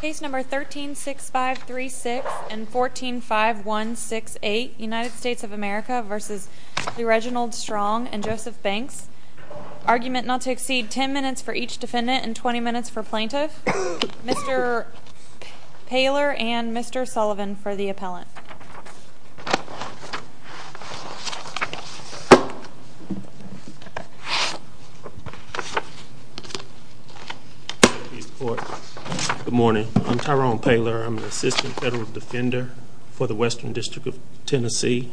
Case No. 13-6536 and 14-5168, United States of America v. Lereginald Strong and Joseph Banks Argument not to exceed 10 minutes for each defendant and 20 minutes for plaintiff Mr. Poehler and Mr. Sullivan for the appellant Good morning. I'm Tyrone Poehler. I'm an assistant federal defender for the Western District of Tennessee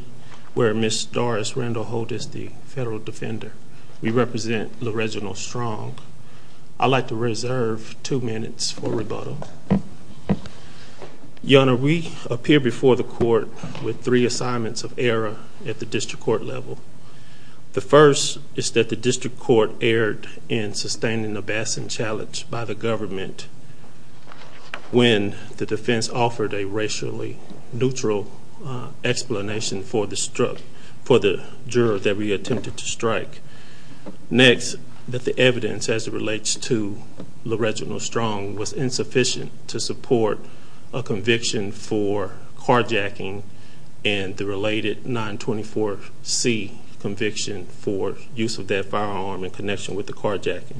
where Ms. Doris Randall Holt is the federal defender. We represent Lereginald Strong. I'd like to reserve two minutes for rebuttal. Your Honor, we appear before the court with three assignments of error at the district court level. The first is that the district court erred in sustaining a bashing challenge by the government when the defense offered a racially neutral explanation for the juror that we attempted to strike. Next, that the evidence as it relates to Lereginald Strong was insufficient to support a conviction for carjacking and the related 924C conviction for use of that firearm in connection with the carjacking.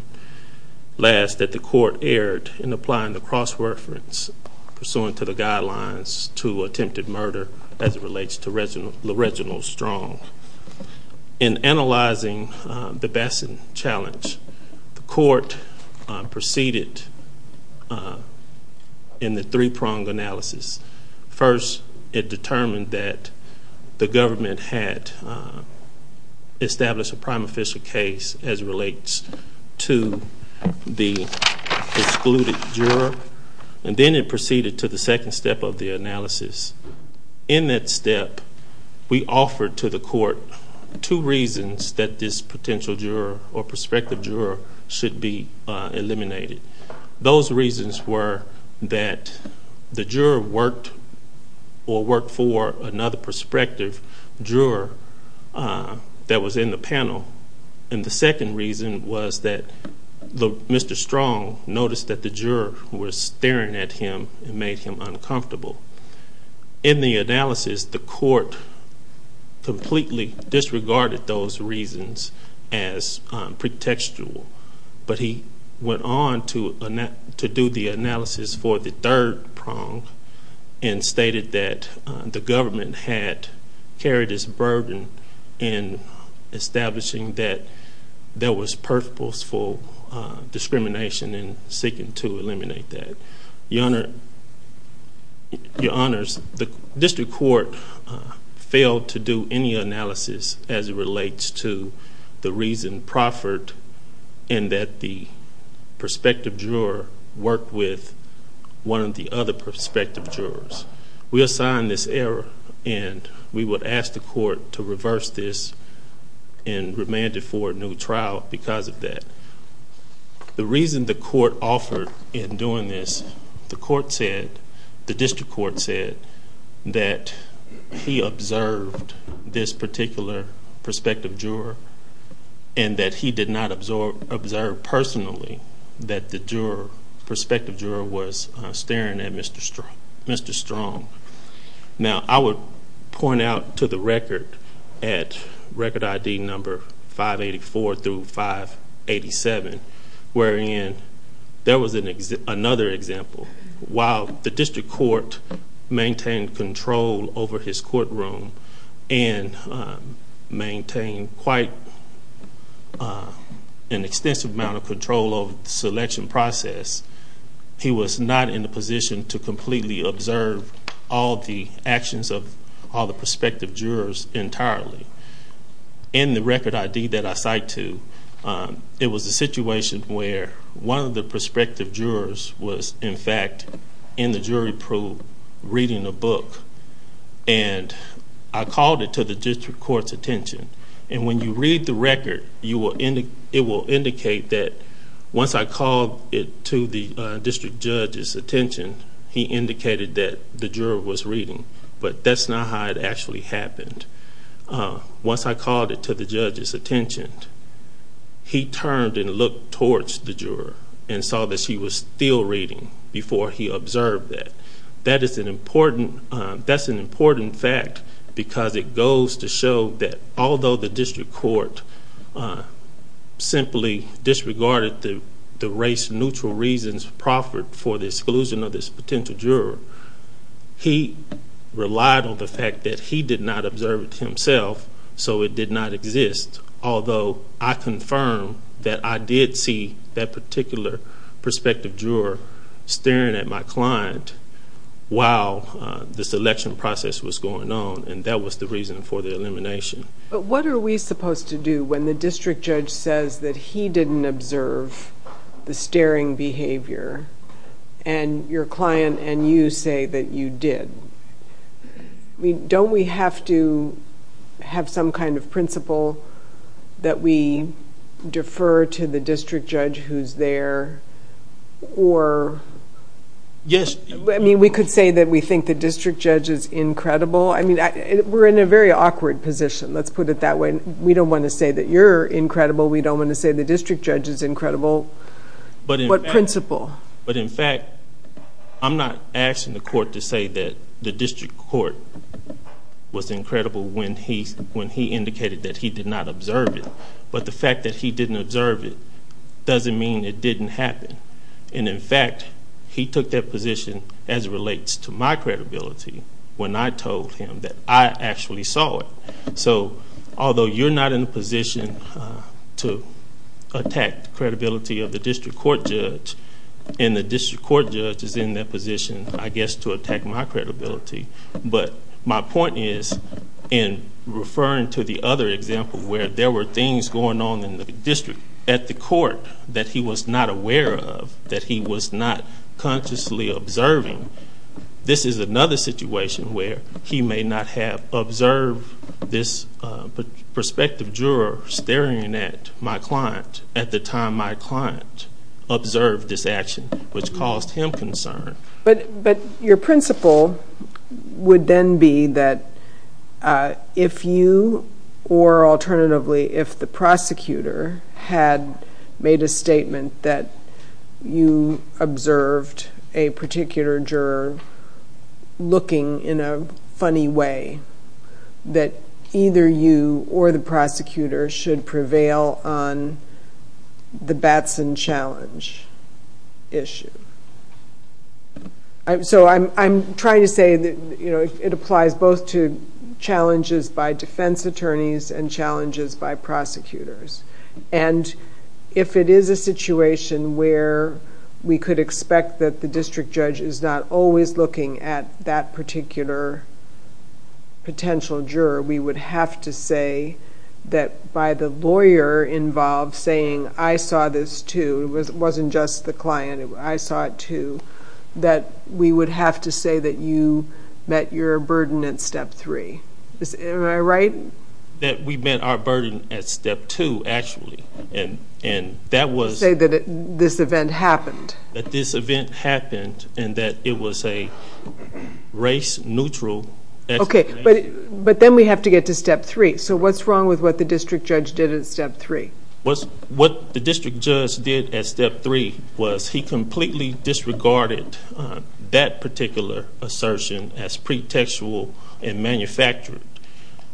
Last, that the court erred in applying the cross-reference pursuant to the guidelines to attempted murder as it relates to Lereginald Strong. In analyzing the bashing challenge, the court proceeded in the three-prong analysis. First, it determined that the government had established a prime official case as it relates to the excluded juror. And then it proceeded to the second step of the analysis. In that step, we offered to the court two reasons that this potential juror or prospective juror should be eliminated. Those reasons were that the juror worked or worked for another prospective juror that was in the panel. And the second reason was that Mr. Strong noticed that the juror was staring at him and made him uncomfortable. In the analysis, the court completely disregarded those reasons as pretextual. But he went on to do the analysis for the third prong and stated that the government had carried its burden in establishing that there was purposeful discrimination in seeking to eliminate that. Your Honors, the district court failed to do any analysis as it relates to the reason proffered in that the prospective juror worked with one of the other prospective jurors. We assigned this error and we would ask the court to reverse this and remand it for a new trial because of that. The reason the court offered in doing this, the district court said that he observed this particular prospective juror and that he did not observe personally that the prospective juror was staring at Mr. Strong. Now I would point out to the record at record ID number 584 through 587 wherein there was another example. While the district court maintained control over his courtroom and maintained quite an extensive amount of control over the selection process, he was not in a position to completely observe all the actions of all the prospective jurors entirely. In the record ID that I cite to, it was a situation where one of the prospective jurors was in fact in the jury pool reading a book. And I called it to the district court's attention. And when you read the record, it will indicate that once I called it to the district judge's attention, he indicated that the juror was reading. But that's not how it actually happened. Once I called it to the judge's attention, he turned and looked towards the juror and saw that she was still reading before he observed that. That is an important fact because it goes to show that although the district court simply disregarded the race-neutral reasons proffered for the exclusion of this potential juror, he relied on the fact that he did not observe it himself, so it did not exist. Although I confirm that I did see that particular prospective juror staring at my client while the selection process was going on, and that was the reason for the elimination. But what are we supposed to do when the district judge says that he didn't observe the staring behavior and your client and you say that you did? Don't we have to have some kind of principle that we defer to the district judge who's there? Yes. We could say that we think the district judge is incredible. We're in a very awkward position, let's put it that way. We don't want to say that you're incredible. We don't want to say the district judge is incredible. What principle? I'm not asking the court to say that the district court was incredible when he indicated that he did not observe it, but the fact that he didn't observe it doesn't mean it didn't happen. In fact, he took that position as it relates to my credibility when I told him that I actually saw it. So although you're not in a position to attack the credibility of the district court judge, and the district court judge is in that position, I guess, to attack my credibility, but my point is in referring to the other example where there were things going on in the district at the court that he was not aware of, that he was not consciously observing, this is another situation where he may not have observed this prospective juror staring at my client at the time my client observed this action, which caused him concern. But your principle would then be that if you, or alternatively, if the prosecutor had made a statement that you observed a particular juror looking in a funny way, that either you or the prosecutor should prevail on the Batson challenge issue. So I'm trying to say that it applies both to challenges by defense attorneys and challenges by prosecutors. And if it is a situation where we could expect that the district judge is not always looking at that particular potential juror, we would have to say that by the lawyer involved saying, I saw this too, it wasn't just the client, I saw it too, that we would have to say that you met your burden at step three. Am I right? That we met our burden at step two, actually, and that was... Say that this event happened. That this event happened, and that it was a race-neutral... Okay, but then we have to get to step three. So what's wrong with what the district judge did at step three? What the district judge did at step three was he completely disregarded that particular assertion as pretextual and manufactured.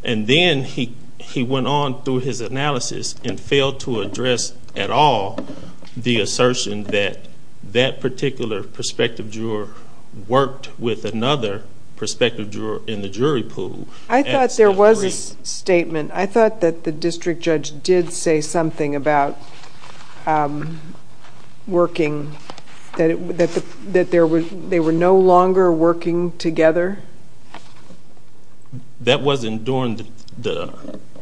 And then he went on through his analysis and failed to address at all the assertion that that particular prospective juror worked with another prospective juror in the jury pool. I thought there was a statement. I thought that the district judge did say something about working, that they were no longer working together. That wasn't during the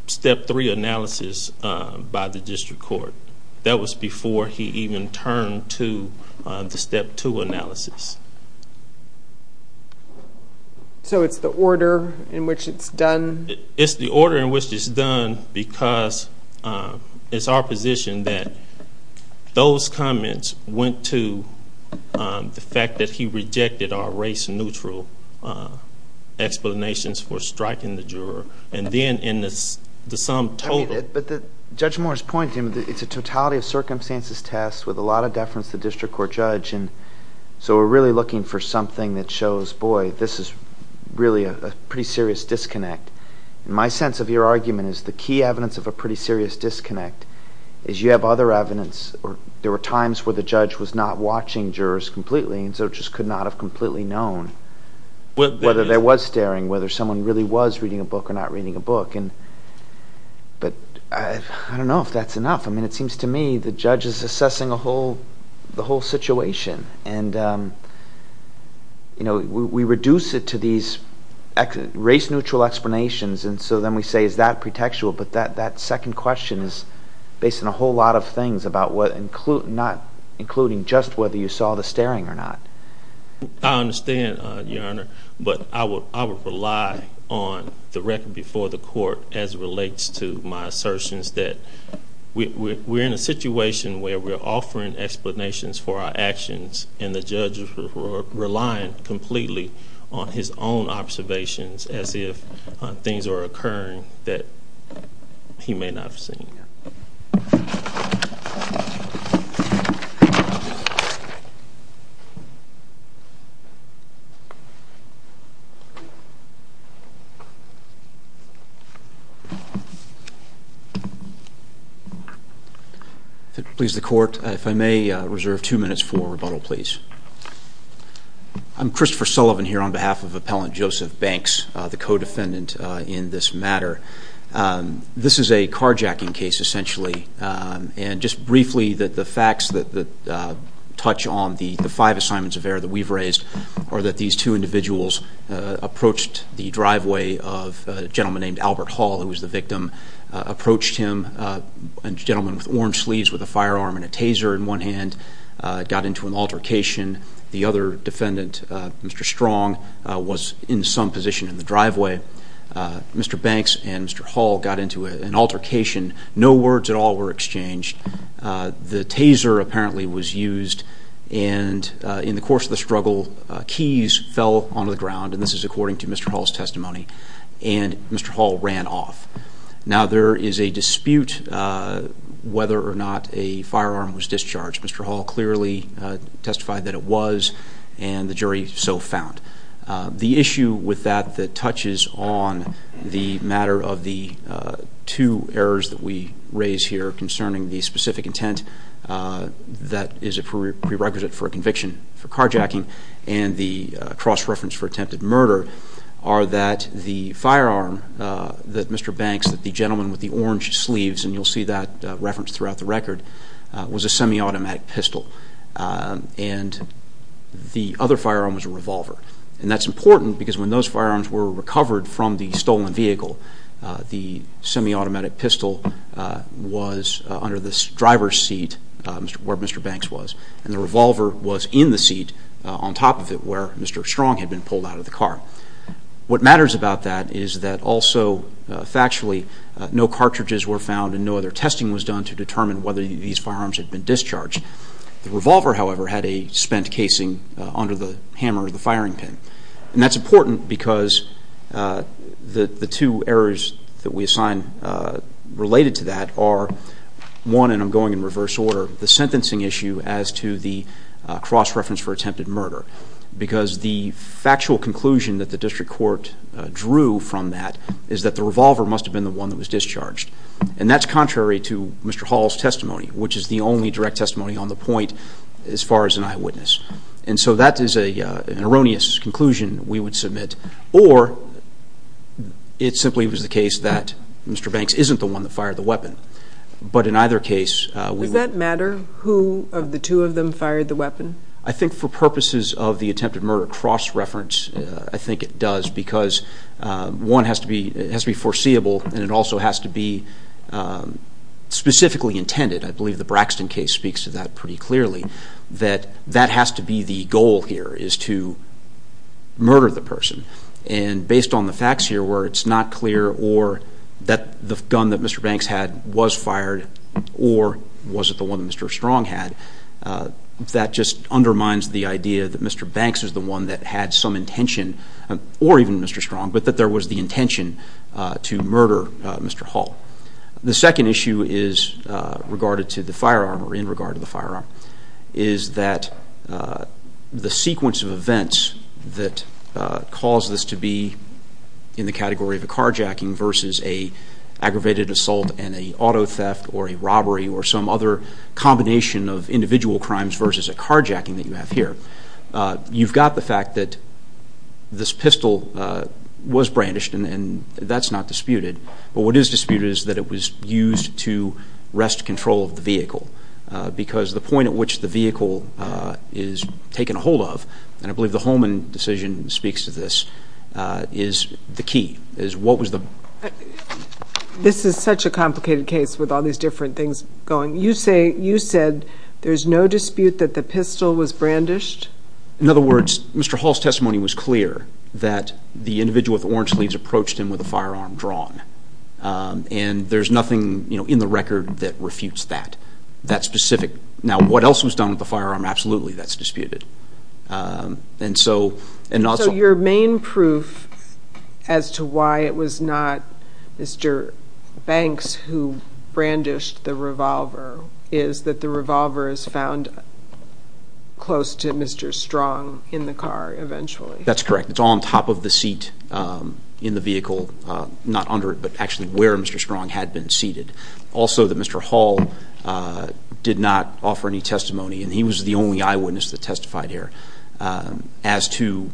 step three analysis by the district court. That was before he even turned to the step two analysis. So it's the order in which it's done? It's the order in which it's done because it's our position that those comments went to the fact that he rejected our race-neutral explanations for striking the juror. And then in the sum total... But Judge Moore's point, it's a totality of circumstances test with a lot of deference to the district court judge, so we're really looking for something that shows, boy, this is really a pretty serious disconnect. My sense of your argument is the key evidence of a pretty serious disconnect is you have other evidence. There were times where the judge was not watching jurors completely and so just could not have completely known whether there was staring, whether someone really was reading a book or not reading a book. But I don't know if that's enough. I mean, it seems to me the judge is assessing the whole situation, and we reduce it to these race-neutral explanations, and so then we say, is that pretextual? But that second question is based on a whole lot of things, not including just whether you saw the staring or not. I understand, Your Honor, but I would rely on the record before the court as it relates to my assertions that we're in a situation where we're offering explanations for our actions, and the judge is relying completely on his own observations as if things are occurring that he may not have seen. Thank you. If it pleases the Court, if I may reserve two minutes for rebuttal, please. I'm Christopher Sullivan here on behalf of Appellant Joseph Banks, the co-defendant in this matter. This is a carjacking case, essentially, and just briefly the facts that touch on the five assignments of error that we've raised are that these two individuals approached the driveway of a gentleman named Albert Hall, who was the victim, approached him, a gentleman with orange sleeves with a firearm and a taser in one hand, got into an altercation. The other defendant, Mr. Strong, was in some position in the driveway. Mr. Banks and Mr. Hall got into an altercation. No words at all were exchanged. The taser apparently was used, and in the course of the struggle, keys fell onto the ground, and this is according to Mr. Hall's testimony, and Mr. Hall ran off. Now, there is a dispute whether or not a firearm was discharged. Mr. Hall clearly testified that it was, and the jury so found. The issue with that that touches on the matter of the two errors that we raise here concerning the specific intent that is a prerequisite for a conviction for carjacking and the cross-reference for attempted murder are that the firearm that Mr. Banks, the gentleman with the orange sleeves, and you'll see that reference throughout the record, was a semi-automatic pistol, and the other firearm was a revolver. And that's important because when those firearms were recovered from the stolen vehicle, the semi-automatic pistol was under the driver's seat where Mr. Banks was, and the revolver was in the seat on top of it where Mr. Strong had been pulled out of the car. What matters about that is that also factually no cartridges were found and no other testing was done to determine whether these firearms had been discharged. The revolver, however, had a spent casing under the hammer of the firing pin. And that's important because the two errors that we assign related to that are, one, and I'm going in reverse order, the sentencing issue as to the cross-reference for attempted murder because the factual conclusion that the district court drew from that is that the revolver must have been the one that was discharged. And that's contrary to Mr. Hall's testimony, which is the only direct testimony on the point as far as an eyewitness. And so that is an erroneous conclusion we would submit, or it simply was the case that Mr. Banks isn't the one that fired the weapon. But in either case, we would... Does that matter who of the two of them fired the weapon? I think for purposes of the attempted murder cross-reference, I think it does because, one, it has to be foreseeable and it also has to be specifically intended. I believe the Braxton case speaks to that pretty clearly, that that has to be the goal here is to murder the person. And based on the facts here where it's not clear or that the gun that Mr. Banks had was fired or was it the one that Mr. Strong had, that just undermines the idea that Mr. Banks is the one that had some intention or even Mr. Strong, but that there was the intention to murder Mr. Hall. The second issue is regarded to the firearm or in regard to the firearm, is that the sequence of events that caused this to be in the category of a carjacking versus an aggravated assault and an auto theft or a robbery or some other combination of individual crimes versus a carjacking that you have here. You've got the fact that this pistol was brandished and that's not disputed, but what is disputed is that it was used to wrest control of the vehicle because the point at which the vehicle is taken hold of, and I believe the Holman decision speaks to this, is the key. This is such a complicated case with all these different things going. You said there's no dispute that the pistol was brandished? In other words, Mr. Hall's testimony was clear that the individual with the orange sleeves approached him with a firearm drawn, and there's nothing in the record that refutes that, that specific. Now, what else was done with the firearm? Absolutely, that's disputed. So your main proof as to why it was not Mr. Banks who brandished the revolver is that the revolver is found close to Mr. Strong in the car eventually? That's correct. It's on top of the seat in the vehicle, not under it, but actually where Mr. Strong had been seated. Also that Mr. Hall did not offer any testimony, and he was the only eyewitness that testified here, as to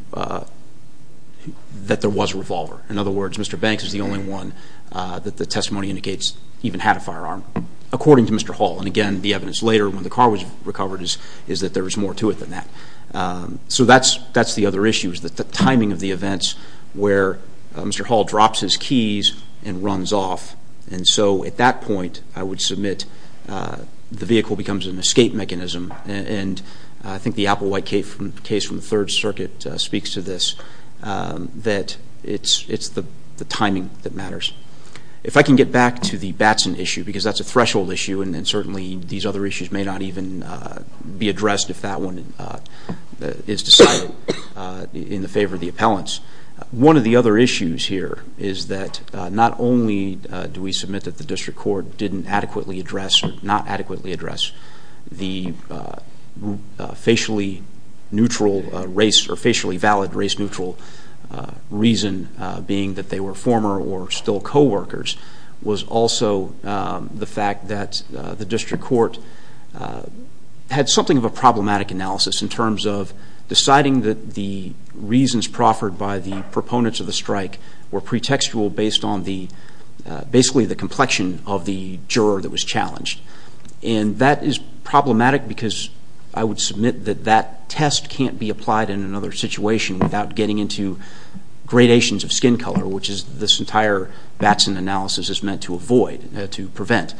that there was a revolver. In other words, Mr. Banks is the only one that the testimony indicates even had a firearm, according to Mr. Hall. And again, the evidence later when the car was recovered is that there was more to it than that. So that's the other issue is the timing of the events where Mr. Hall drops his keys and runs off. And so at that point, I would submit the vehicle becomes an escape mechanism, and I think the Applewhite case from the Third Circuit speaks to this, that it's the timing that matters. If I can get back to the Batson issue, because that's a threshold issue, and certainly these other issues may not even be addressed if that one is decided in the favor of the appellants. One of the other issues here is that not only do we submit that the district court didn't adequately address or not adequately address the facially neutral race or facially valid race neutral reason, being that they were former or still coworkers, was also the fact that the district court had something of a problematic analysis in terms of deciding that the reasons proffered by the proponents of the strike were pretextual based on basically the complexion of the juror that was challenged. And that is problematic because I would submit that that test can't be applied in another situation without getting into gradations of skin color, which this entire Batson analysis is meant to avoid, to prevent.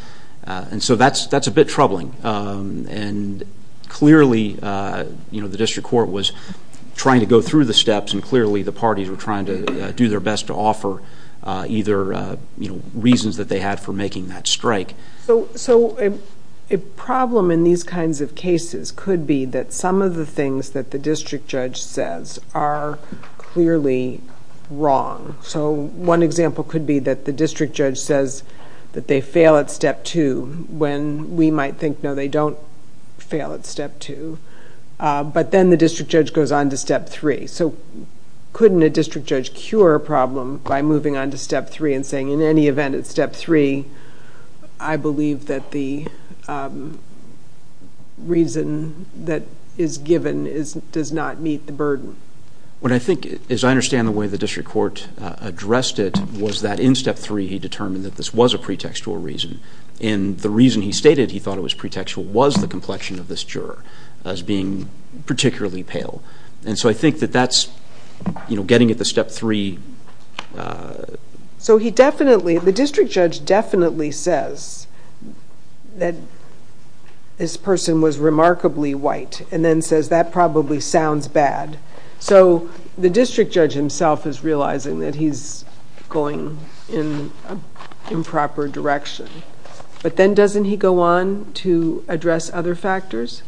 And so that's a bit troubling. And clearly the district court was trying to go through the steps and clearly the parties were trying to do their best to offer either reasons that they had for making that strike. So a problem in these kinds of cases could be that some of the things that the district judge says are clearly wrong. So one example could be that the district judge says that they fail at step two when we might think, no, they don't fail at step two. But then the district judge goes on to step three. So couldn't a district judge cure a problem by moving on to step three and saying in any event at step three, I believe that the reason that is given does not meet the burden? What I think, as I understand the way the district court addressed it, was that in step three he determined that this was a pretextual reason. And the reason he stated he thought it was pretextual was the complexion of this juror as being particularly pale. And so I think that that's getting at the step three. So the district judge definitely says that this person was remarkably white and then says that probably sounds bad. So the district judge himself is realizing that he's going in an improper direction. But then doesn't he go on to address other factors?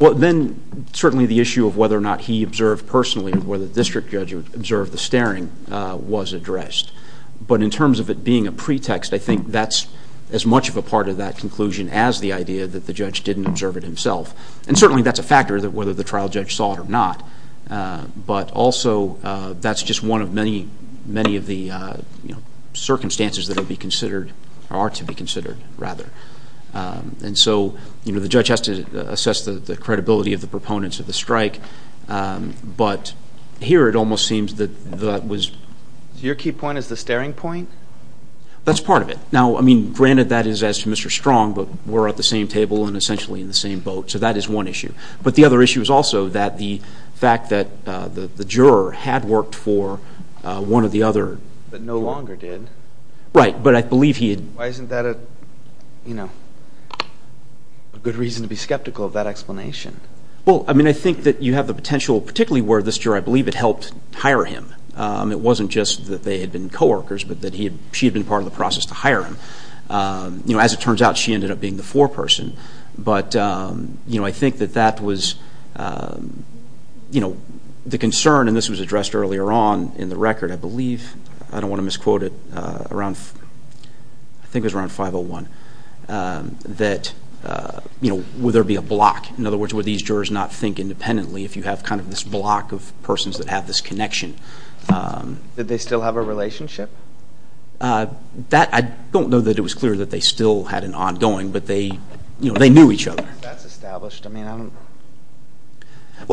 Well, then certainly the issue of whether or not he observed personally or whether the district judge observed the staring was addressed. But in terms of it being a pretext, I think that's as much of a part of that conclusion as the idea that the judge didn't observe it himself. And certainly that's a factor, whether the trial judge saw it or not. But also that's just one of many of the circumstances that are to be considered. And so the judge has to assess the credibility of the proponents of the strike. But here it almost seems that that was... So your key point is the staring point? That's part of it. Now, I mean, granted that is as to Mr. Strong, but we're at the same table and essentially in the same boat. So that is one issue. But the other issue is also that the fact that the juror had worked for one of the other... But no longer did. Right, but I believe he had... Why isn't that a good reason to be skeptical of that explanation? Well, I mean, I think that you have the potential, particularly where this juror I believe had helped hire him. It wasn't just that they had been co-workers, but that she had been part of the process to hire him. As it turns out, she ended up being the foreperson. But I think that that was... The concern, and this was addressed earlier on in the record, I believe, I don't want to misquote it, around... I think it was around 501, that would there be a block? In other words, would these jurors not think independently if you have kind of this block of persons that have this connection? Did they still have a relationship? I don't know that it was clear that they still had an ongoing, but they knew each other. That's established. Well,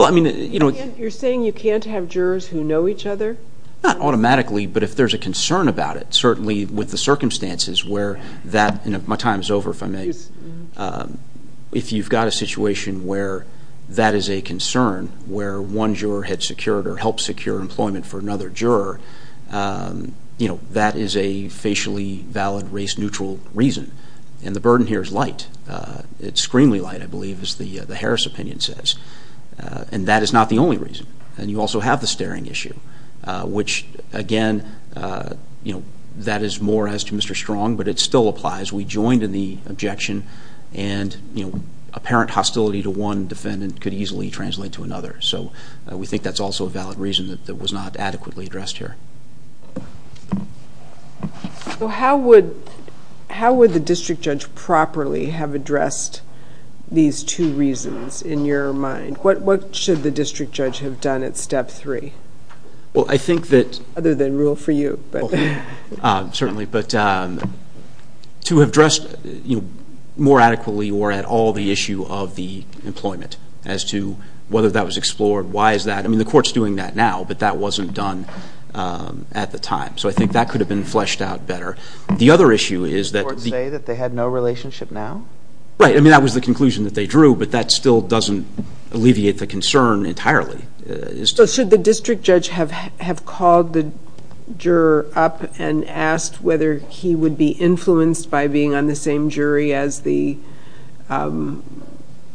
I mean... You're saying you can't have jurors who know each other? Not automatically, but if there's a concern about it, certainly with the circumstances where that... My time is over, if I may. If you've got a situation where that is a concern, where one juror had secured or helped secure employment for another juror, that is a facially valid, race-neutral reason. And the burden here is light. It's screenly light, I believe, as the Harris opinion says. And that is not the only reason. And you also have the staring issue, which, again, that is more as to Mr. Strong, but it still applies. We joined in the objection, and apparent hostility to one defendant could easily translate to another. So we think that's also a valid reason that was not adequately addressed here. So how would the district judge properly have addressed these two reasons, in your mind? What should the district judge have done at Step 3? Well, I think that... Other than rule for you. Certainly. But to have addressed more adequately or at all the issue of the employment, as to whether that was explored, why is that? I mean, the Court's doing that now, but that wasn't done at the time. So I think that could have been fleshed out better. The other issue is that... Did the Court say that they had no relationship now? Right. I mean, that was the conclusion that they drew, but that still doesn't alleviate the concern entirely. So should the district judge have called the juror up and asked whether he would be influenced by being on the same jury as the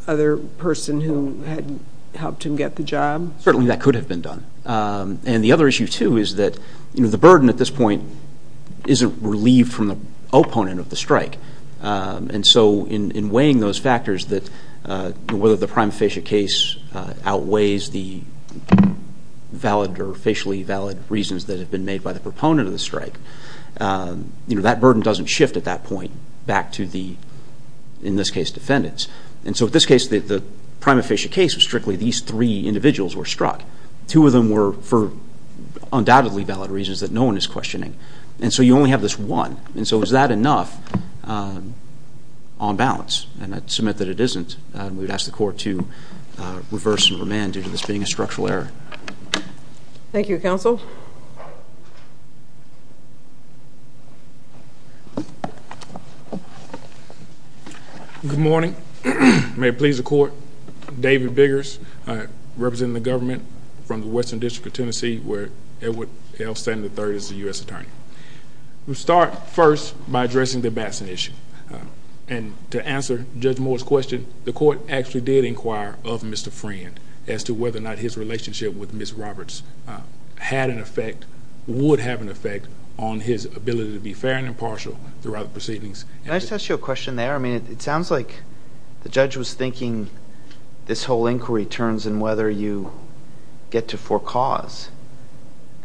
other person who had helped him get the job? Certainly, that could have been done. And the other issue, too, is that the burden at this point isn't relieved from the opponent of the strike. And so in weighing those factors, whether the prima facie case outweighs the valid or facially valid reasons that have been made by the proponent of the strike, that burden doesn't shift at that point back to the, in this case, defendants. And so in this case, the prima facie case was strictly these three individuals were struck. Two of them were for undoubtedly valid reasons that no one is questioning. And so you only have this one. And so is that enough on balance? And I'd submit that it isn't. We would ask the Court to reverse and remand due to this being a structural error. Thank you, Counsel. Good morning. May it please the Court, David Biggers, representing the government from the Western District of Tennessee where Edward L. Stanley III is the U.S. Attorney. We'll start first by addressing the Batson issue. And to answer Judge Moore's question, the Court actually did inquire of Mr. Friend as to whether or not his relationship with Ms. Roberts had an effect, would have an effect on his ability to be fair and impartial throughout the proceedings. Can I just ask you a question there? I mean, it sounds like the judge was thinking this whole inquiry turns in whether you get to for cause.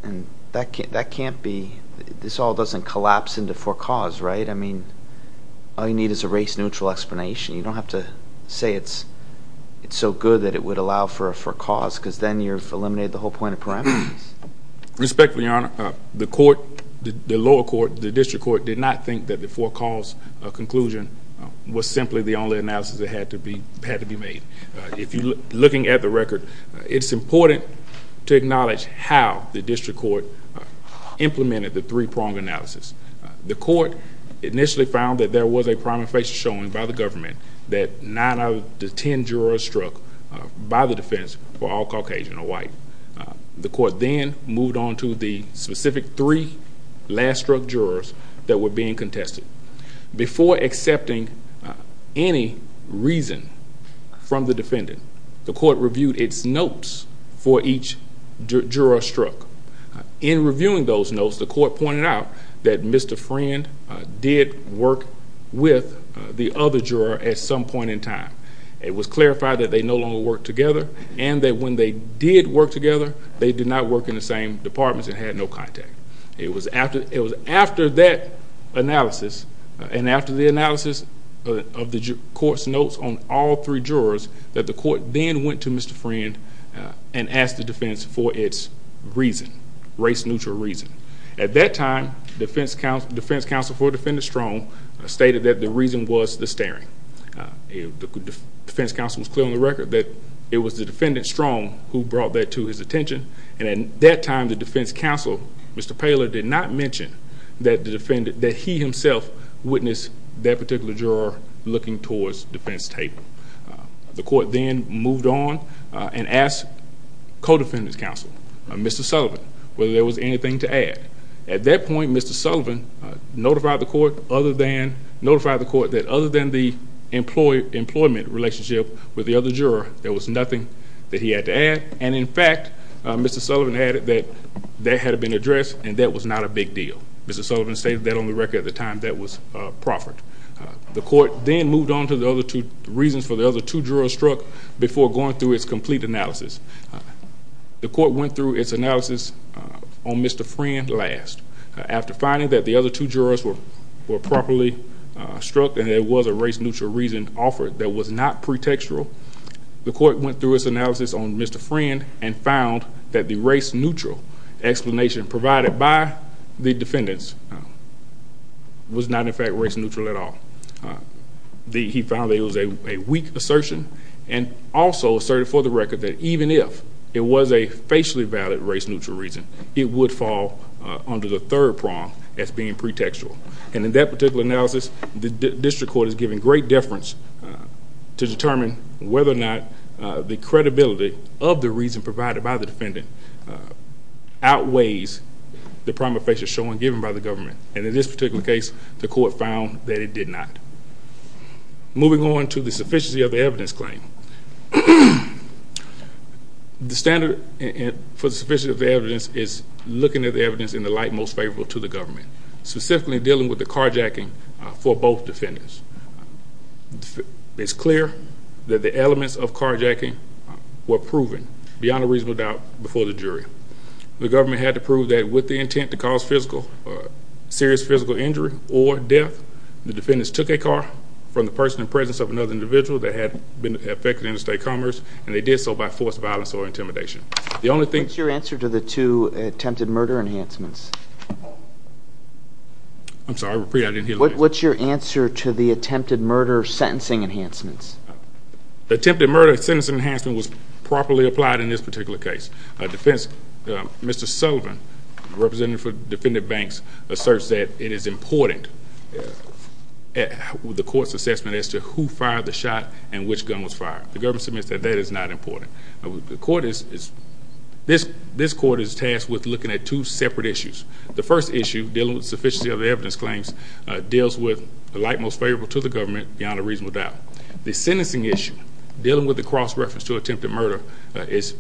And that can't be, this all doesn't collapse into for cause, right? I mean, all you need is a race-neutral explanation. You don't have to say it's so good that it would allow for a for cause because then you've eliminated the whole point of parameters. Respectfully, Your Honor, the lower court, the district court, did not think that the for cause conclusion was simply the only analysis that had to be made. Looking at the record, it's important to acknowledge how the district court implemented the three-prong analysis. The court initially found that there was a prominent face showing by the government that nine out of the ten jurors struck by the defense were all Caucasian or white. The court then moved on to the specific three last-struck jurors that were being contested. Before accepting any reason from the defendant, the court reviewed its notes for each juror struck. In reviewing those notes, the court pointed out that Mr. Friend did work with the other juror at some point in time. It was clarified that they no longer worked together and that when they did work together, they did not work in the same departments and had no contact. It was after that analysis and after the analysis of the court's notes on all three jurors that the court then went to Mr. Friend and asked the defense for its reason, race-neutral reason. At that time, the defense counsel for Defendant Strong stated that the reason was the staring. The defense counsel was clear on the record that it was the defendant, Strong, who brought that to his attention. At that time, the defense counsel, Mr. Paylor, did not mention that he himself witnessed that particular juror looking towards the defense table. The court then moved on and asked co-defendant's counsel, Mr. Sullivan, whether there was anything to add. At that point, Mr. Sullivan notified the court that other than the employment relationship with the other juror, there was nothing that he had to add. In fact, Mr. Sullivan added that that had been addressed and that was not a big deal. Mr. Sullivan stated that on the record at the time that was proffered. The court then moved on to the reasons for the other two jurors struck before going through its complete analysis. The court went through its analysis on Mr. Friend last. After finding that the other two jurors were properly struck and there was a race-neutral reason offered that was not pretextual, the court went through its analysis on Mr. Friend and found that the race-neutral explanation provided by the defendants was not, in fact, race-neutral at all. He found that it was a weak assertion and also asserted for the record that even if it was a facially valid race-neutral reason, it would fall under the third prong as being pretextual. In that particular analysis, the district court is given great deference to determine whether or not the credibility of the reason provided by the defendant outweighs the prima facie showing given by the government. And in this particular case, the court found that it did not. Moving on to the sufficiency of the evidence claim. The standard for the sufficiency of the evidence is looking at the evidence in the light most favorable to the government, specifically dealing with the carjacking for both defendants. It's clear that the elements of carjacking were proven beyond a reasonable doubt before the jury. The government had to prove that with the intent to cause physical, serious physical injury or death, the defendants took a car from the person and presence of another individual that had been affected in a state commerce, and they did so by force, violence, or intimidation. What's your answer to the two attempted murder enhancements? I'm sorry, repeat. I didn't hear the question. What's your answer to the attempted murder sentencing enhancements? The attempted murder sentencing enhancement was properly applied in this particular case. Mr. Sullivan, representing for Defendant Banks, asserts that it is important with the court's assessment as to who fired the shot and which gun was fired. The government submits that that is not important. This court is tasked with looking at two separate issues. The first issue dealing with sufficiency of the evidence claims deals with the light most favorable to the government beyond a reasonable doubt. The sentencing issue dealing with the cross-reference to attempted murder is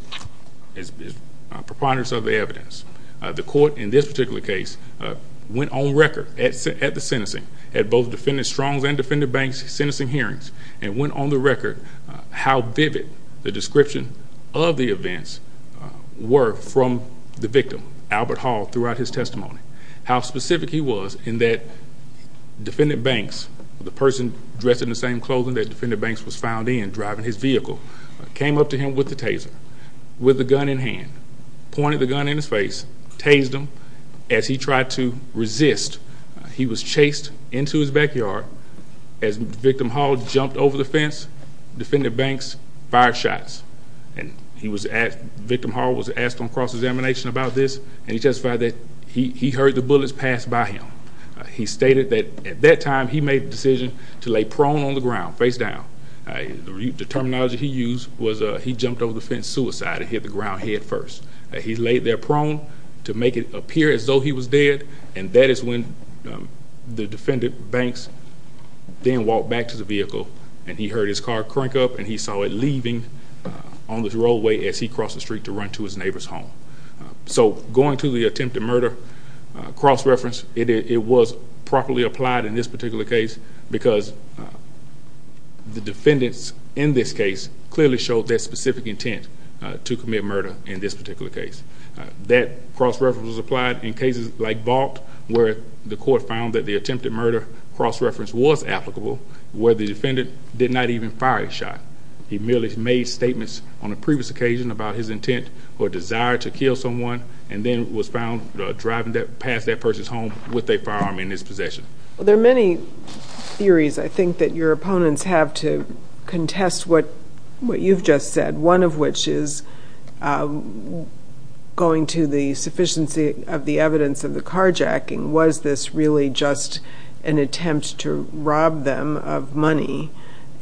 preponderance of the evidence. The court in this particular case went on record at the sentencing at both Defendant Strong's and Defendant Banks' sentencing hearings and went on the record how vivid the description of the events were from the victim, Albert Hall, throughout his testimony, how specific he was in that Defendant Banks, the person dressed in the same clothing that Defendant Banks was found in, driving his vehicle, came up to him with the taser, with the gun in hand, pointed the gun in his face, tased him as he tried to resist. He was chased into his backyard. As Victim Hall jumped over the fence, Defendant Banks fired shots. Victim Hall was asked on cross-examination about this, and he testified that he heard the bullets pass by him. He stated that at that time he made the decision to lay prone on the ground, face down. The terminology he used was he jumped over the fence suicide and hit the ground head first. He laid there prone to make it appear as though he was dead, and that is when the Defendant Banks then walked back to the vehicle, and he heard his car crank up, and he saw it leaving on the roadway as he crossed the street to run to his neighbor's home. So going to the attempted murder cross-reference, it was properly applied in this particular case because the defendants in this case clearly showed their specific intent to commit murder in this particular case. That cross-reference was applied in cases like Vaught, where the court found that the attempted murder cross-reference was applicable, where the defendant did not even fire a shot. He merely made statements on a previous occasion about his intent or desire to kill someone, and then was found driving past that person's home with a firearm in his possession. There are many theories, I think, that your opponents have to contest what you've just said, one of which is going to the sufficiency of the evidence of the carjacking. Was this really just an attempt to rob them of money,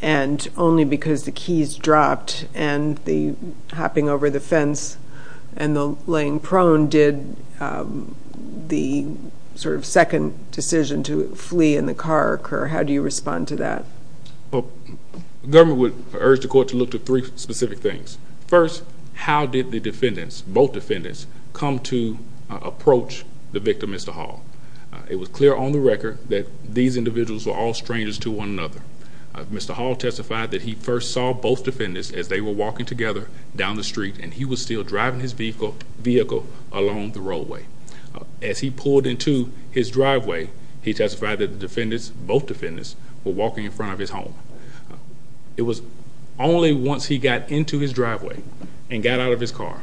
and only because the keys dropped and the hopping over the fence and the lane prone did the sort of second decision to flee in the car occur? How do you respond to that? The government would urge the court to look to three specific things. First, how did the defendants, both defendants, come to approach the victim, Mr. Hall? It was clear on the record that these individuals were all strangers to one another. Mr. Hall testified that he first saw both defendants as they were walking together down the street, and he was still driving his vehicle along the roadway. As he pulled into his driveway, he testified that the defendants, both defendants, were walking in front of his home. It was only once he got into his driveway and got out of his car,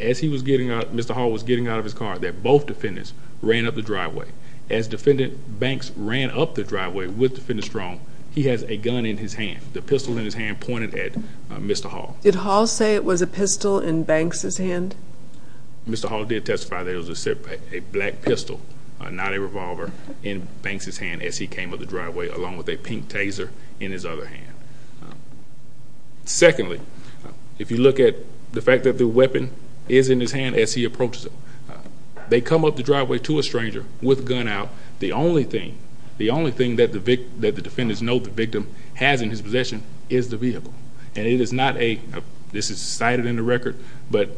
as Mr. Hall was getting out of his car, that both defendants ran up the driveway. As defendant Banks ran up the driveway with defendant Strong, he has a gun in his hand. The pistol in his hand pointed at Mr. Hall. Did Hall say it was a pistol in Banks' hand? Mr. Hall did testify that it was a black pistol, not a revolver, in Banks' hand as he came up the driveway, along with a pink Taser in his other hand. Secondly, if you look at the fact that the weapon is in his hand as he approaches him, they come up the driveway to a stranger with a gun out. The only thing that the defendants know the victim has in his possession is the vehicle. This is cited in the record, but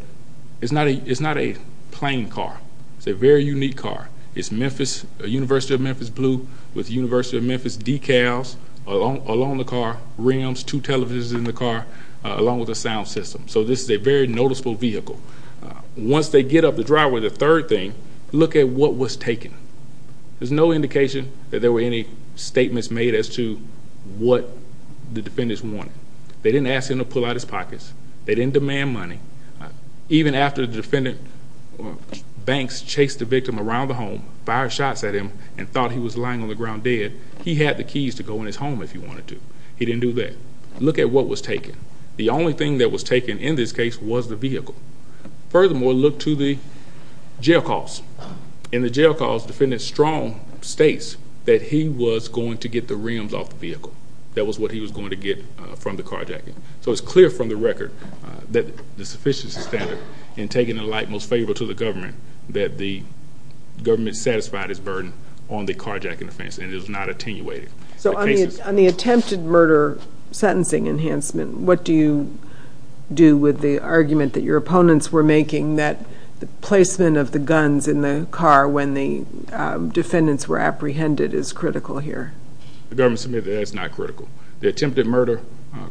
it's not a plain car. It's a very unique car. It's a University of Memphis blue with University of Memphis decals along the car rims, two televisions in the car, along with a sound system. So this is a very noticeable vehicle. Once they get up the driveway, the third thing, look at what was taken. There's no indication that there were any statements made as to what the defendants wanted. They didn't ask him to pull out his pockets. They didn't demand money. Even after the defendant Banks chased the victim around the home, fired shots at him, and thought he was lying on the ground dead, he had the keys to go in his home if he wanted to. He didn't do that. Look at what was taken. The only thing that was taken in this case was the vehicle. Furthermore, look to the jail calls. In the jail calls, the defendant strong states that he was going to get the rims off the vehicle. That was what he was going to get from the carjacking. So it's clear from the record that the sufficiency standard in taking the light most favorable to the government, that the government satisfied its burden on the carjacking offense, and it was not attenuated. So on the attempted murder sentencing enhancement, what do you do with the argument that your opponents were making that the placement of the guns in the car when the defendants were apprehended is critical here? The government submitted that it's not critical. The attempted murder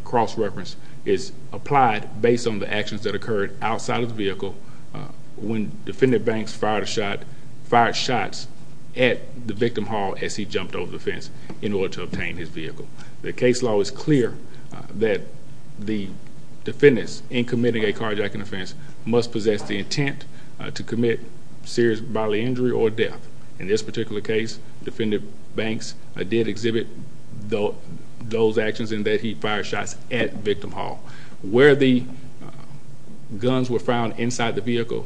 cross-reference is applied based on the actions that occurred outside of the vehicle when defendant Banks fired shots at the victim hall as he jumped over the fence in order to obtain his vehicle. The case law is clear that the defendants in committing a carjacking offense must possess the intent to commit serious bodily injury or death. In this particular case, defendant Banks did exhibit those actions in that he fired shots at victim hall. Where the guns were found inside the vehicle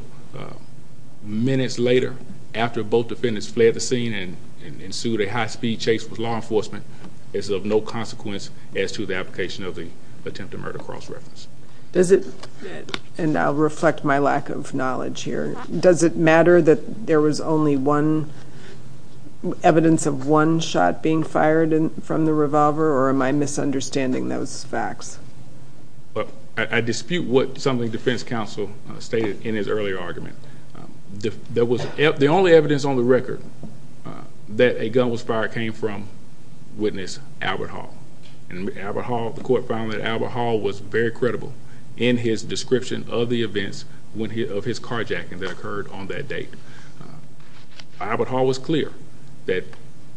minutes later, after both defendants fled the scene and ensued a high-speed chase with law enforcement, is of no consequence as to the application of the attempted murder cross-reference. And I'll reflect my lack of knowledge here. Does it matter that there was only evidence of one shot being fired from the revolver, or am I misunderstanding those facts? I dispute what some of the defense counsel stated in his earlier argument. The only evidence on the record that a gun was fired came from witness Albert Hall. And the court found that Albert Hall was very credible in his description of the events of his carjacking that occurred on that date. Albert Hall was clear that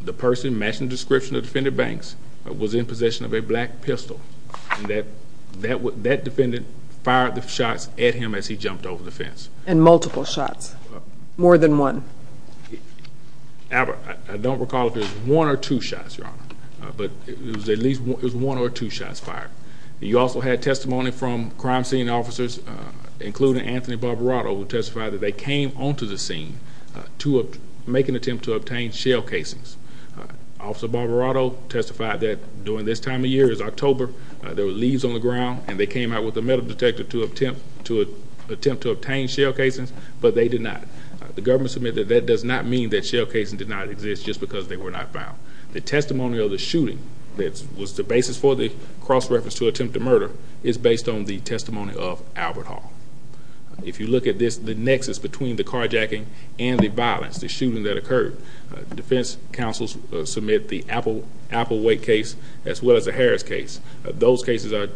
the person matching the description of defendant Banks was in possession of a black pistol. And that defendant fired the shots at him as he jumped over the fence. And multiple shots. More than one. Albert, I don't recall if it was one or two shots, Your Honor. But it was at least one or two shots fired. You also had testimony from crime scene officers, including Anthony Barberato, who testified that they came onto the scene to make an attempt to obtain shell casings. Officer Barberato testified that during this time of year, it was October, there were leaves on the ground, and they came out with a metal detector to attempt to obtain shell casings, but they did not. The government submitted that that does not mean that shell casings did not exist just because they were not found. The testimony of the shooting that was the basis for the cross-reference to attempted murder is based on the testimony of Albert Hall. If you look at this, the nexus between the carjacking and the violence, the shooting that occurred, defense counsels submit the Applewhite case as well as the Harris case. Those cases are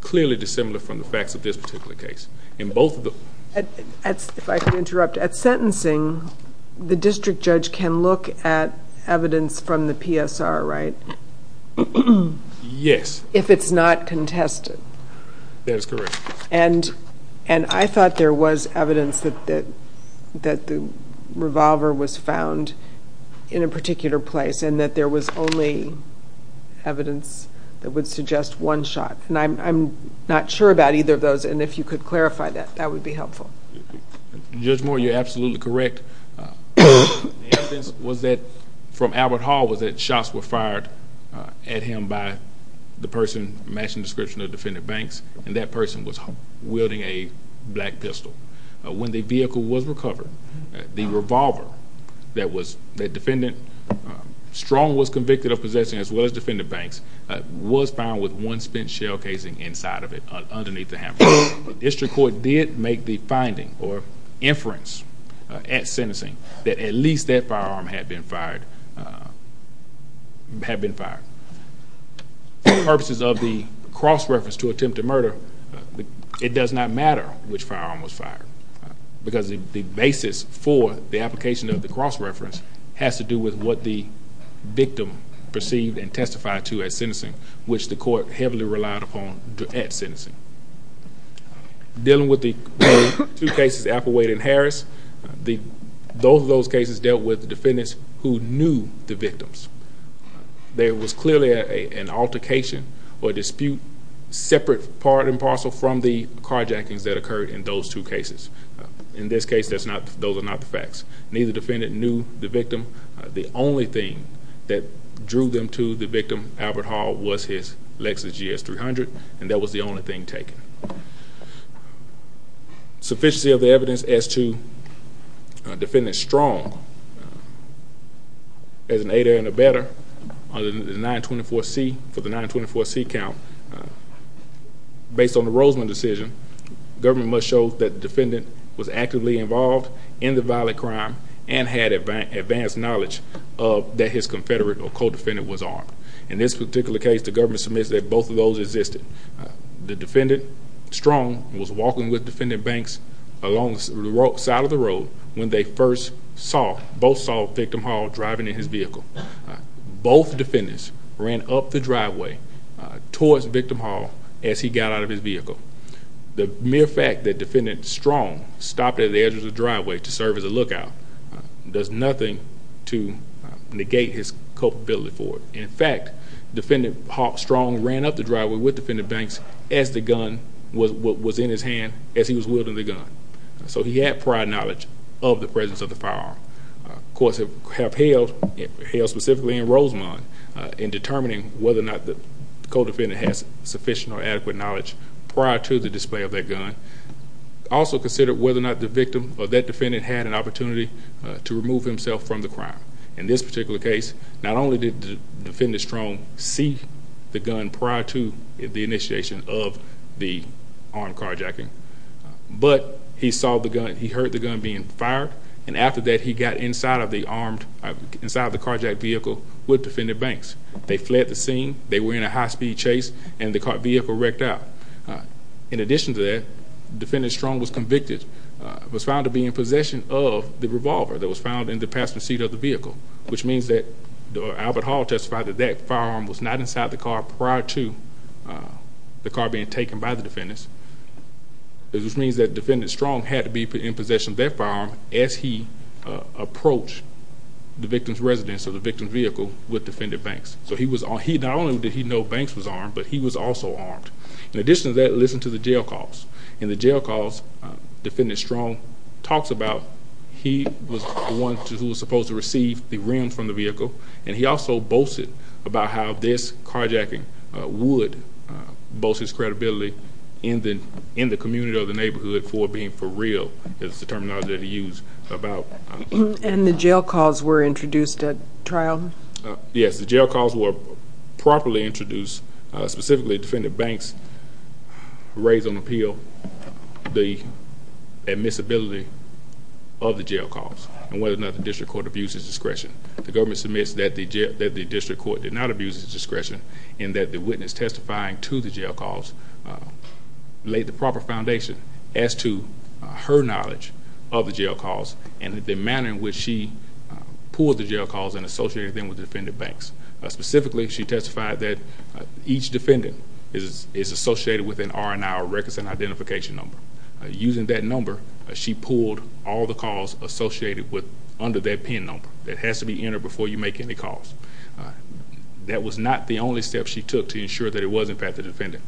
clearly dissimilar from the facts of this particular case. If I can interrupt, at sentencing, the district judge can look at evidence from the PSR, right? Yes. If it's not contested. That is correct. I thought there was evidence that the revolver was found in a particular place and that there was only evidence that would suggest one shot. I'm not sure about either of those, and if you could clarify that, that would be helpful. Judge Moore, you're absolutely correct. The evidence from Albert Hall was that shots were fired at him by the person matching the description of Defendant Banks, and that person was wielding a black pistol. When the vehicle was recovered, the revolver that Defendant Strong was convicted of possessing as well as Defendant Banks was found with one spent shell casing inside of it underneath the handle. The district court did make the finding or inference at sentencing that at least that firearm had been fired. For purposes of the cross-reference to attempted murder, it does not matter which firearm was fired because the basis for the application of the cross-reference has to do with what the victim perceived and testified to at sentencing, which the court heavily relied upon at sentencing. Dealing with the two cases, Applewade and Harris, both of those cases dealt with defendants who knew the victims. There was clearly an altercation or dispute separate, part and parcel, from the carjackings that occurred in those two cases. In this case, those are not the facts. Neither defendant knew the victim. The only thing that drew them to the victim, Albert Hall, was his Lexus GS300, and that was the only thing taken. Sufficiency of the evidence as to Defendant Strong as an aider and abetter for the 924C count, based on the Roseland decision, the government must show that the defendant was actively involved in the violent crime and had advanced knowledge that his confederate or co-defendant was armed. In this particular case, the government submits that both of those existed. The defendant, Strong, was walking with Defendant Banks along the side of the road when they first saw, both saw, Victim Hall driving in his vehicle. Both defendants ran up the driveway towards Victim Hall as he got out of his vehicle. The mere fact that Defendant Strong stopped at the edge of the driveway to serve as a lookout does nothing to negate his culpability for it. In fact, Defendant Strong ran up the driveway with Defendant Banks as the gun was in his hand, as he was wielding the gun. So he had prior knowledge of the presence of the firearm. Courts have held, specifically in Roseland, in determining whether or not the co-defendant has sufficient or adequate knowledge prior to the display of that gun, also considered whether or not the victim or that defendant had an opportunity to remove himself from the crime. In this particular case, not only did Defendant Strong see the gun prior to the initiation of the armed carjacking, but he saw the gun, he heard the gun being fired, and after that he got inside of the armed, inside of the carjacked vehicle with Defendant Banks. They fled the scene, they were in a high-speed chase, and the vehicle wrecked out. In addition to that, Defendant Strong was convicted, was found to be in possession of the revolver that was found in the passenger seat of the vehicle, which means that Albert Hall testified that that firearm was not inside the car prior to the car being taken by the defendants, which means that Defendant Strong had to be in possession of that firearm as he approached the victim's residence or the victim's vehicle with Defendant Banks. So not only did he know Banks was armed, but he was also armed. In addition to that, listen to the jail calls. In the jail calls, Defendant Strong talks about he was the one who was supposed to receive the rims from the vehicle, and he also boasted about how this carjacking would boost his credibility in the community or the neighborhood for being for real is the terminology that he used. And the jail calls were introduced at trial? Yes, the jail calls were properly introduced. Specifically, Defendant Banks raised on appeal the admissibility of the jail calls and whether or not the district court abused his discretion. The government submits that the district court did not abuse his discretion and that the witness testifying to the jail calls laid the proper foundation as to her knowledge of the jail calls and the manner in which she pulled the jail calls and associated them with Defendant Banks. Specifically, she testified that each defendant is associated with an R&R, records and identification number. Using that number, she pulled all the calls associated with under that PIN number that has to be entered before you make any calls. That was not the only step she took to ensure that it was, in fact, the defendant.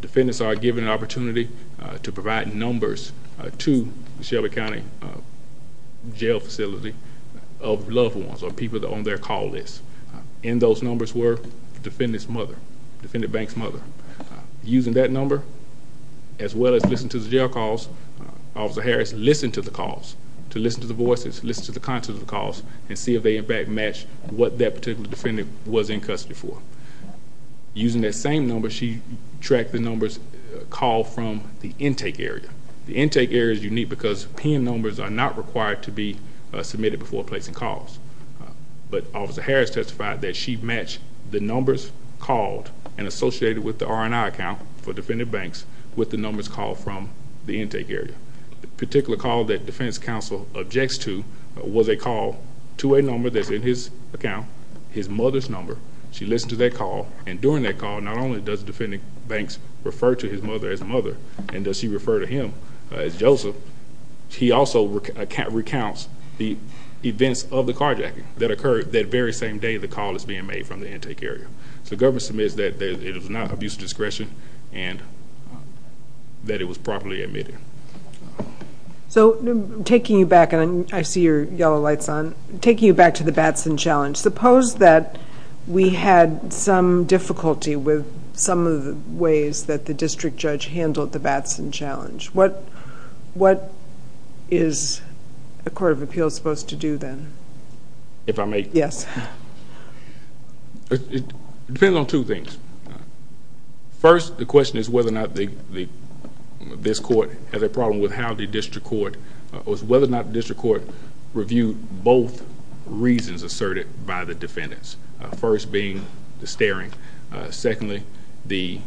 Defendants are given an opportunity to provide numbers to the Shelby County jail facility of loved ones or people on their call list. In those numbers were the defendant's mother, Defendant Banks' mother. Using that number, as well as listening to the jail calls, Officer Harris listened to the calls to listen to the voices, listen to the content of the calls and see if they, in fact, matched what that particular defendant was in custody for. Using that same number, she tracked the numbers called from the intake area. The intake area is unique because PIN numbers are not required to be submitted before placing calls. But Officer Harris testified that she matched the numbers called and associated with the R&R account for Defendant Banks with the numbers called from the intake area. The particular call that defense counsel objects to was a call to a number that's in his account, his mother's number. She listened to that call, and during that call, not only does Defendant Banks refer to his mother as mother and does she refer to him as Joseph, he also recounts the events of the carjacking that occurred that very same day the call is being made from the intake area. So the government submits that it was not abuse of discretion and that it was properly admitted. So taking you back, and I see your yellow lights on, taking you back to the Batson Challenge, suppose that we had some difficulty with some of the ways that the district judge handled the Batson Challenge. What is a court of appeals supposed to do then? If I may? Yes. It depends on two things. First, the question is whether or not this court has a problem with how the district court, or whether or not the district court, reviewed both reasons asserted by the defendants, first being the staring, secondly the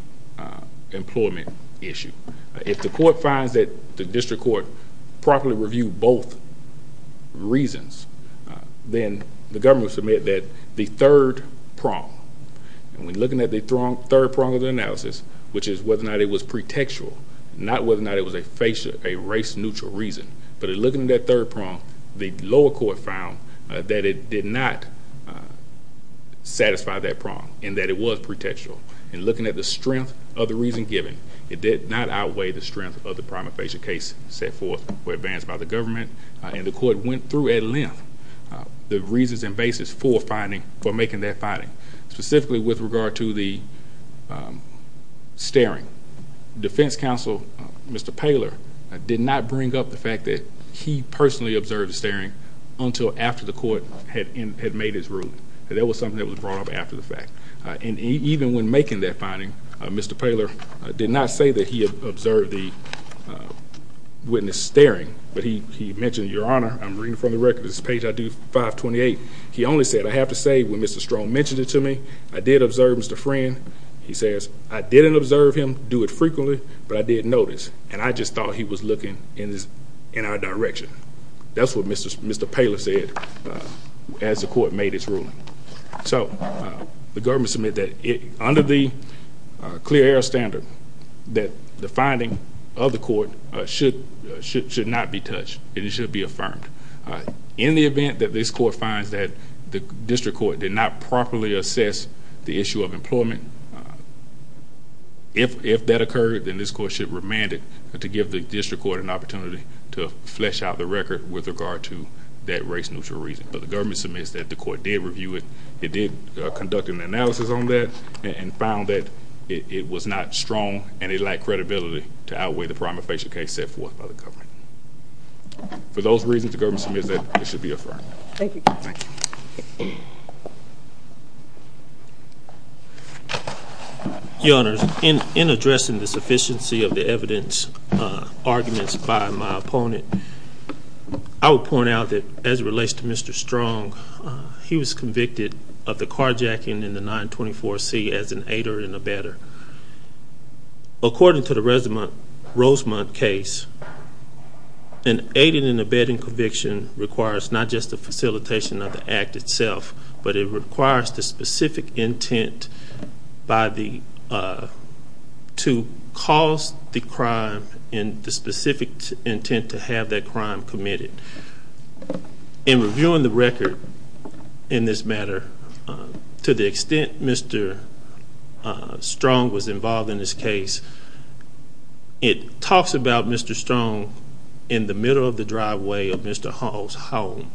employment issue. If the court finds that the district court properly reviewed both reasons, then the government will submit that the third prong, and we're looking at the third prong of the analysis, which is whether or not it was pretextual, not whether or not it was a race-neutral reason. But looking at that third prong, the lower court found that it did not satisfy that prong, and that it was pretextual. And looking at the strength of the reason given, it did not outweigh the strength of the prima facie case set forth or advanced by the government. And the court went through at length the reasons and basis for making that finding, specifically with regard to the staring. The defense counsel, Mr. Poehler, did not bring up the fact that he personally observed staring until after the court had made his ruling. That was something that was brought up after the fact. And even when making that finding, Mr. Poehler did not say that he observed the witness staring, but he mentioned, Your Honor, I'm reading from the record. This is page 528. He only said, I have to say, when Mr. Strong mentioned it to me, I did observe Mr. Friend. He says, I didn't observe him, do it frequently, but I did notice, and I just thought he was looking in our direction. That's what Mr. Poehler said as the court made its ruling. So the government submitted that under the clear air standard, that the finding of the court should not be touched. It should be affirmed. In the event that this court finds that the district court did not properly assess the issue of employment, if that occurred, then this court should remand it to give the district court an opportunity to flesh out the record with regard to that race neutral reason. But the government submits that the court did review it, it did conduct an analysis on that, and found that it was not strong and it lacked credibility to outweigh the prima facie case set forth by the government. For those reasons, the government submits that it should be affirmed. Thank you. Your Honors, in addressing the sufficiency of the evidence arguments by my opponent, I would point out that as it relates to Mr. Strong, he was convicted of the carjacking in the 924C as an aider and abetter. According to the Rosemont case, an aider and abetter conviction requires not just the facilitation of the act itself, but it requires the specific intent to cause the crime and the specific intent to have that crime committed. In reviewing the record in this matter, to the extent Mr. Strong was involved in this case, it talks about Mr. Strong in the middle of the driveway of Mr. Hall's home.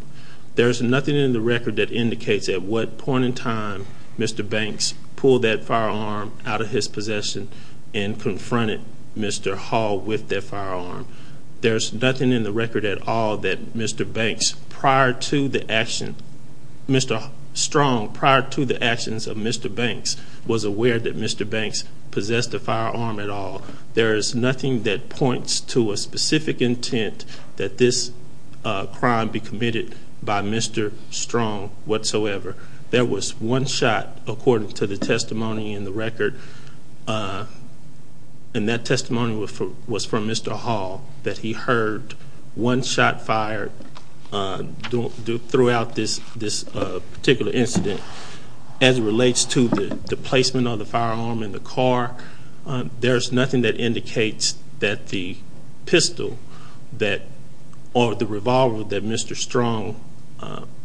There's nothing in the record that indicates at what point in time Mr. Banks pulled that firearm out of his possession and confronted Mr. Hall with that firearm. There's nothing in the record at all that Mr. Banks prior to the action, Mr. Strong prior to the actions of Mr. Banks, was aware that Mr. Banks possessed a firearm at all. There is nothing that points to a specific intent that this crime be committed by Mr. Strong whatsoever. There was one shot, according to the testimony in the record, and that testimony was from Mr. Hall, that he heard one shot fired throughout this particular incident. As it relates to the placement of the firearm in the car, there's nothing that indicates that the pistol or the revolver that Mr. Strong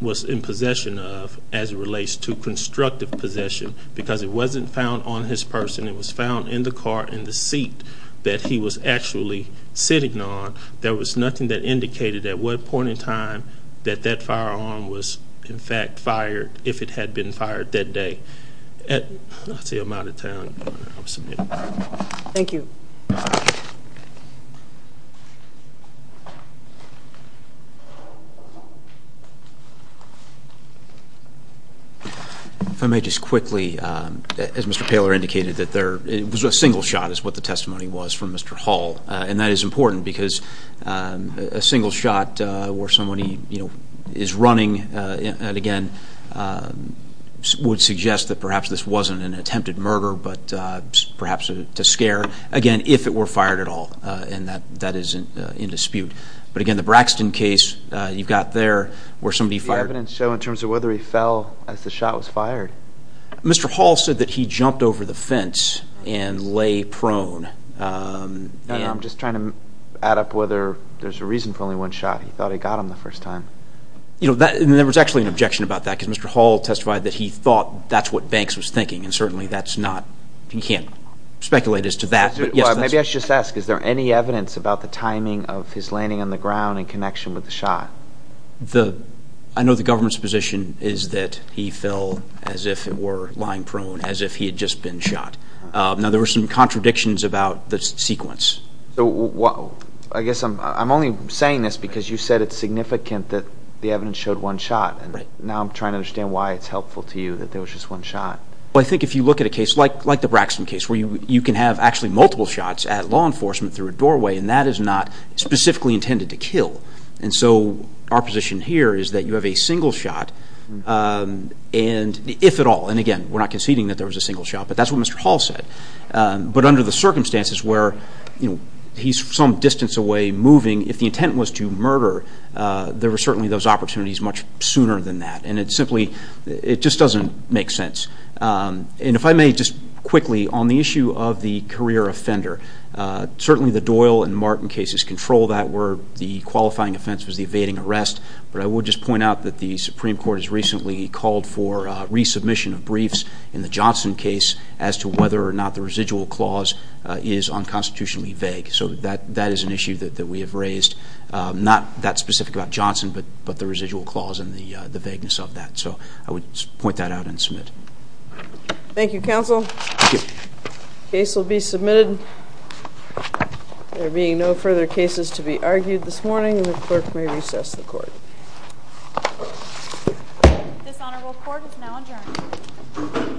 was in possession of as it relates to constructive possession, because it wasn't found on his person. It was found in the car in the seat that he was actually sitting on. There was nothing that indicated at what point in time that that firearm was, in fact, fired, if it had been fired that day. That's the amount of time I'll submit. Thank you. If I may just quickly, as Mr. Paler indicated, it was a single shot is what the testimony was from Mr. Hall, and that is important because a single shot where somebody is running, again, would suggest that perhaps this wasn't an attempted murder but perhaps to scare, again, if it were fired at all, and that is in dispute. But, again, the Braxton case, you've got there where somebody fired. The evidence show in terms of whether he fell as the shot was fired. Mr. Hall said that he jumped over the fence and lay prone. I'm just trying to add up whether there's a reason for only one shot. He thought he got him the first time. There was actually an objection about that because Mr. Hall testified that he thought that's what Banks was thinking, and certainly that's not. He can't speculate as to that. Maybe I should just ask, is there any evidence about the timing of his landing on the ground in connection with the shot? I know the government's position is that he fell as if it were lying prone, as if he had just been shot. Now, there were some contradictions about the sequence. I guess I'm only saying this because you said it's significant that the evidence showed one shot, and now I'm trying to understand why it's helpful to you that there was just one shot. I think if you look at a case like the Braxton case, where you can have actually multiple shots at law enforcement through a doorway, and that is not specifically intended to kill. And so our position here is that you have a single shot, if at all. And, again, we're not conceding that there was a single shot, but that's what Mr. Hall said. But under the circumstances where he's some distance away moving, if the intent was to murder, there were certainly those opportunities much sooner than that. And it simply just doesn't make sense. And if I may just quickly, on the issue of the career offender, certainly the Doyle and Martin cases control that word. The qualifying offense was the evading arrest. But I will just point out that the Supreme Court has recently called for resubmission of briefs in the Johnson case as to whether or not the residual clause is unconstitutionally vague. So that is an issue that we have raised. Not that specific about Johnson, but the residual clause and the vagueness of that. So I would point that out and submit. Thank you, counsel. The case will be submitted. There being no further cases to be argued this morning, the clerk may recess the court. This honorable court is now adjourned. Thank you.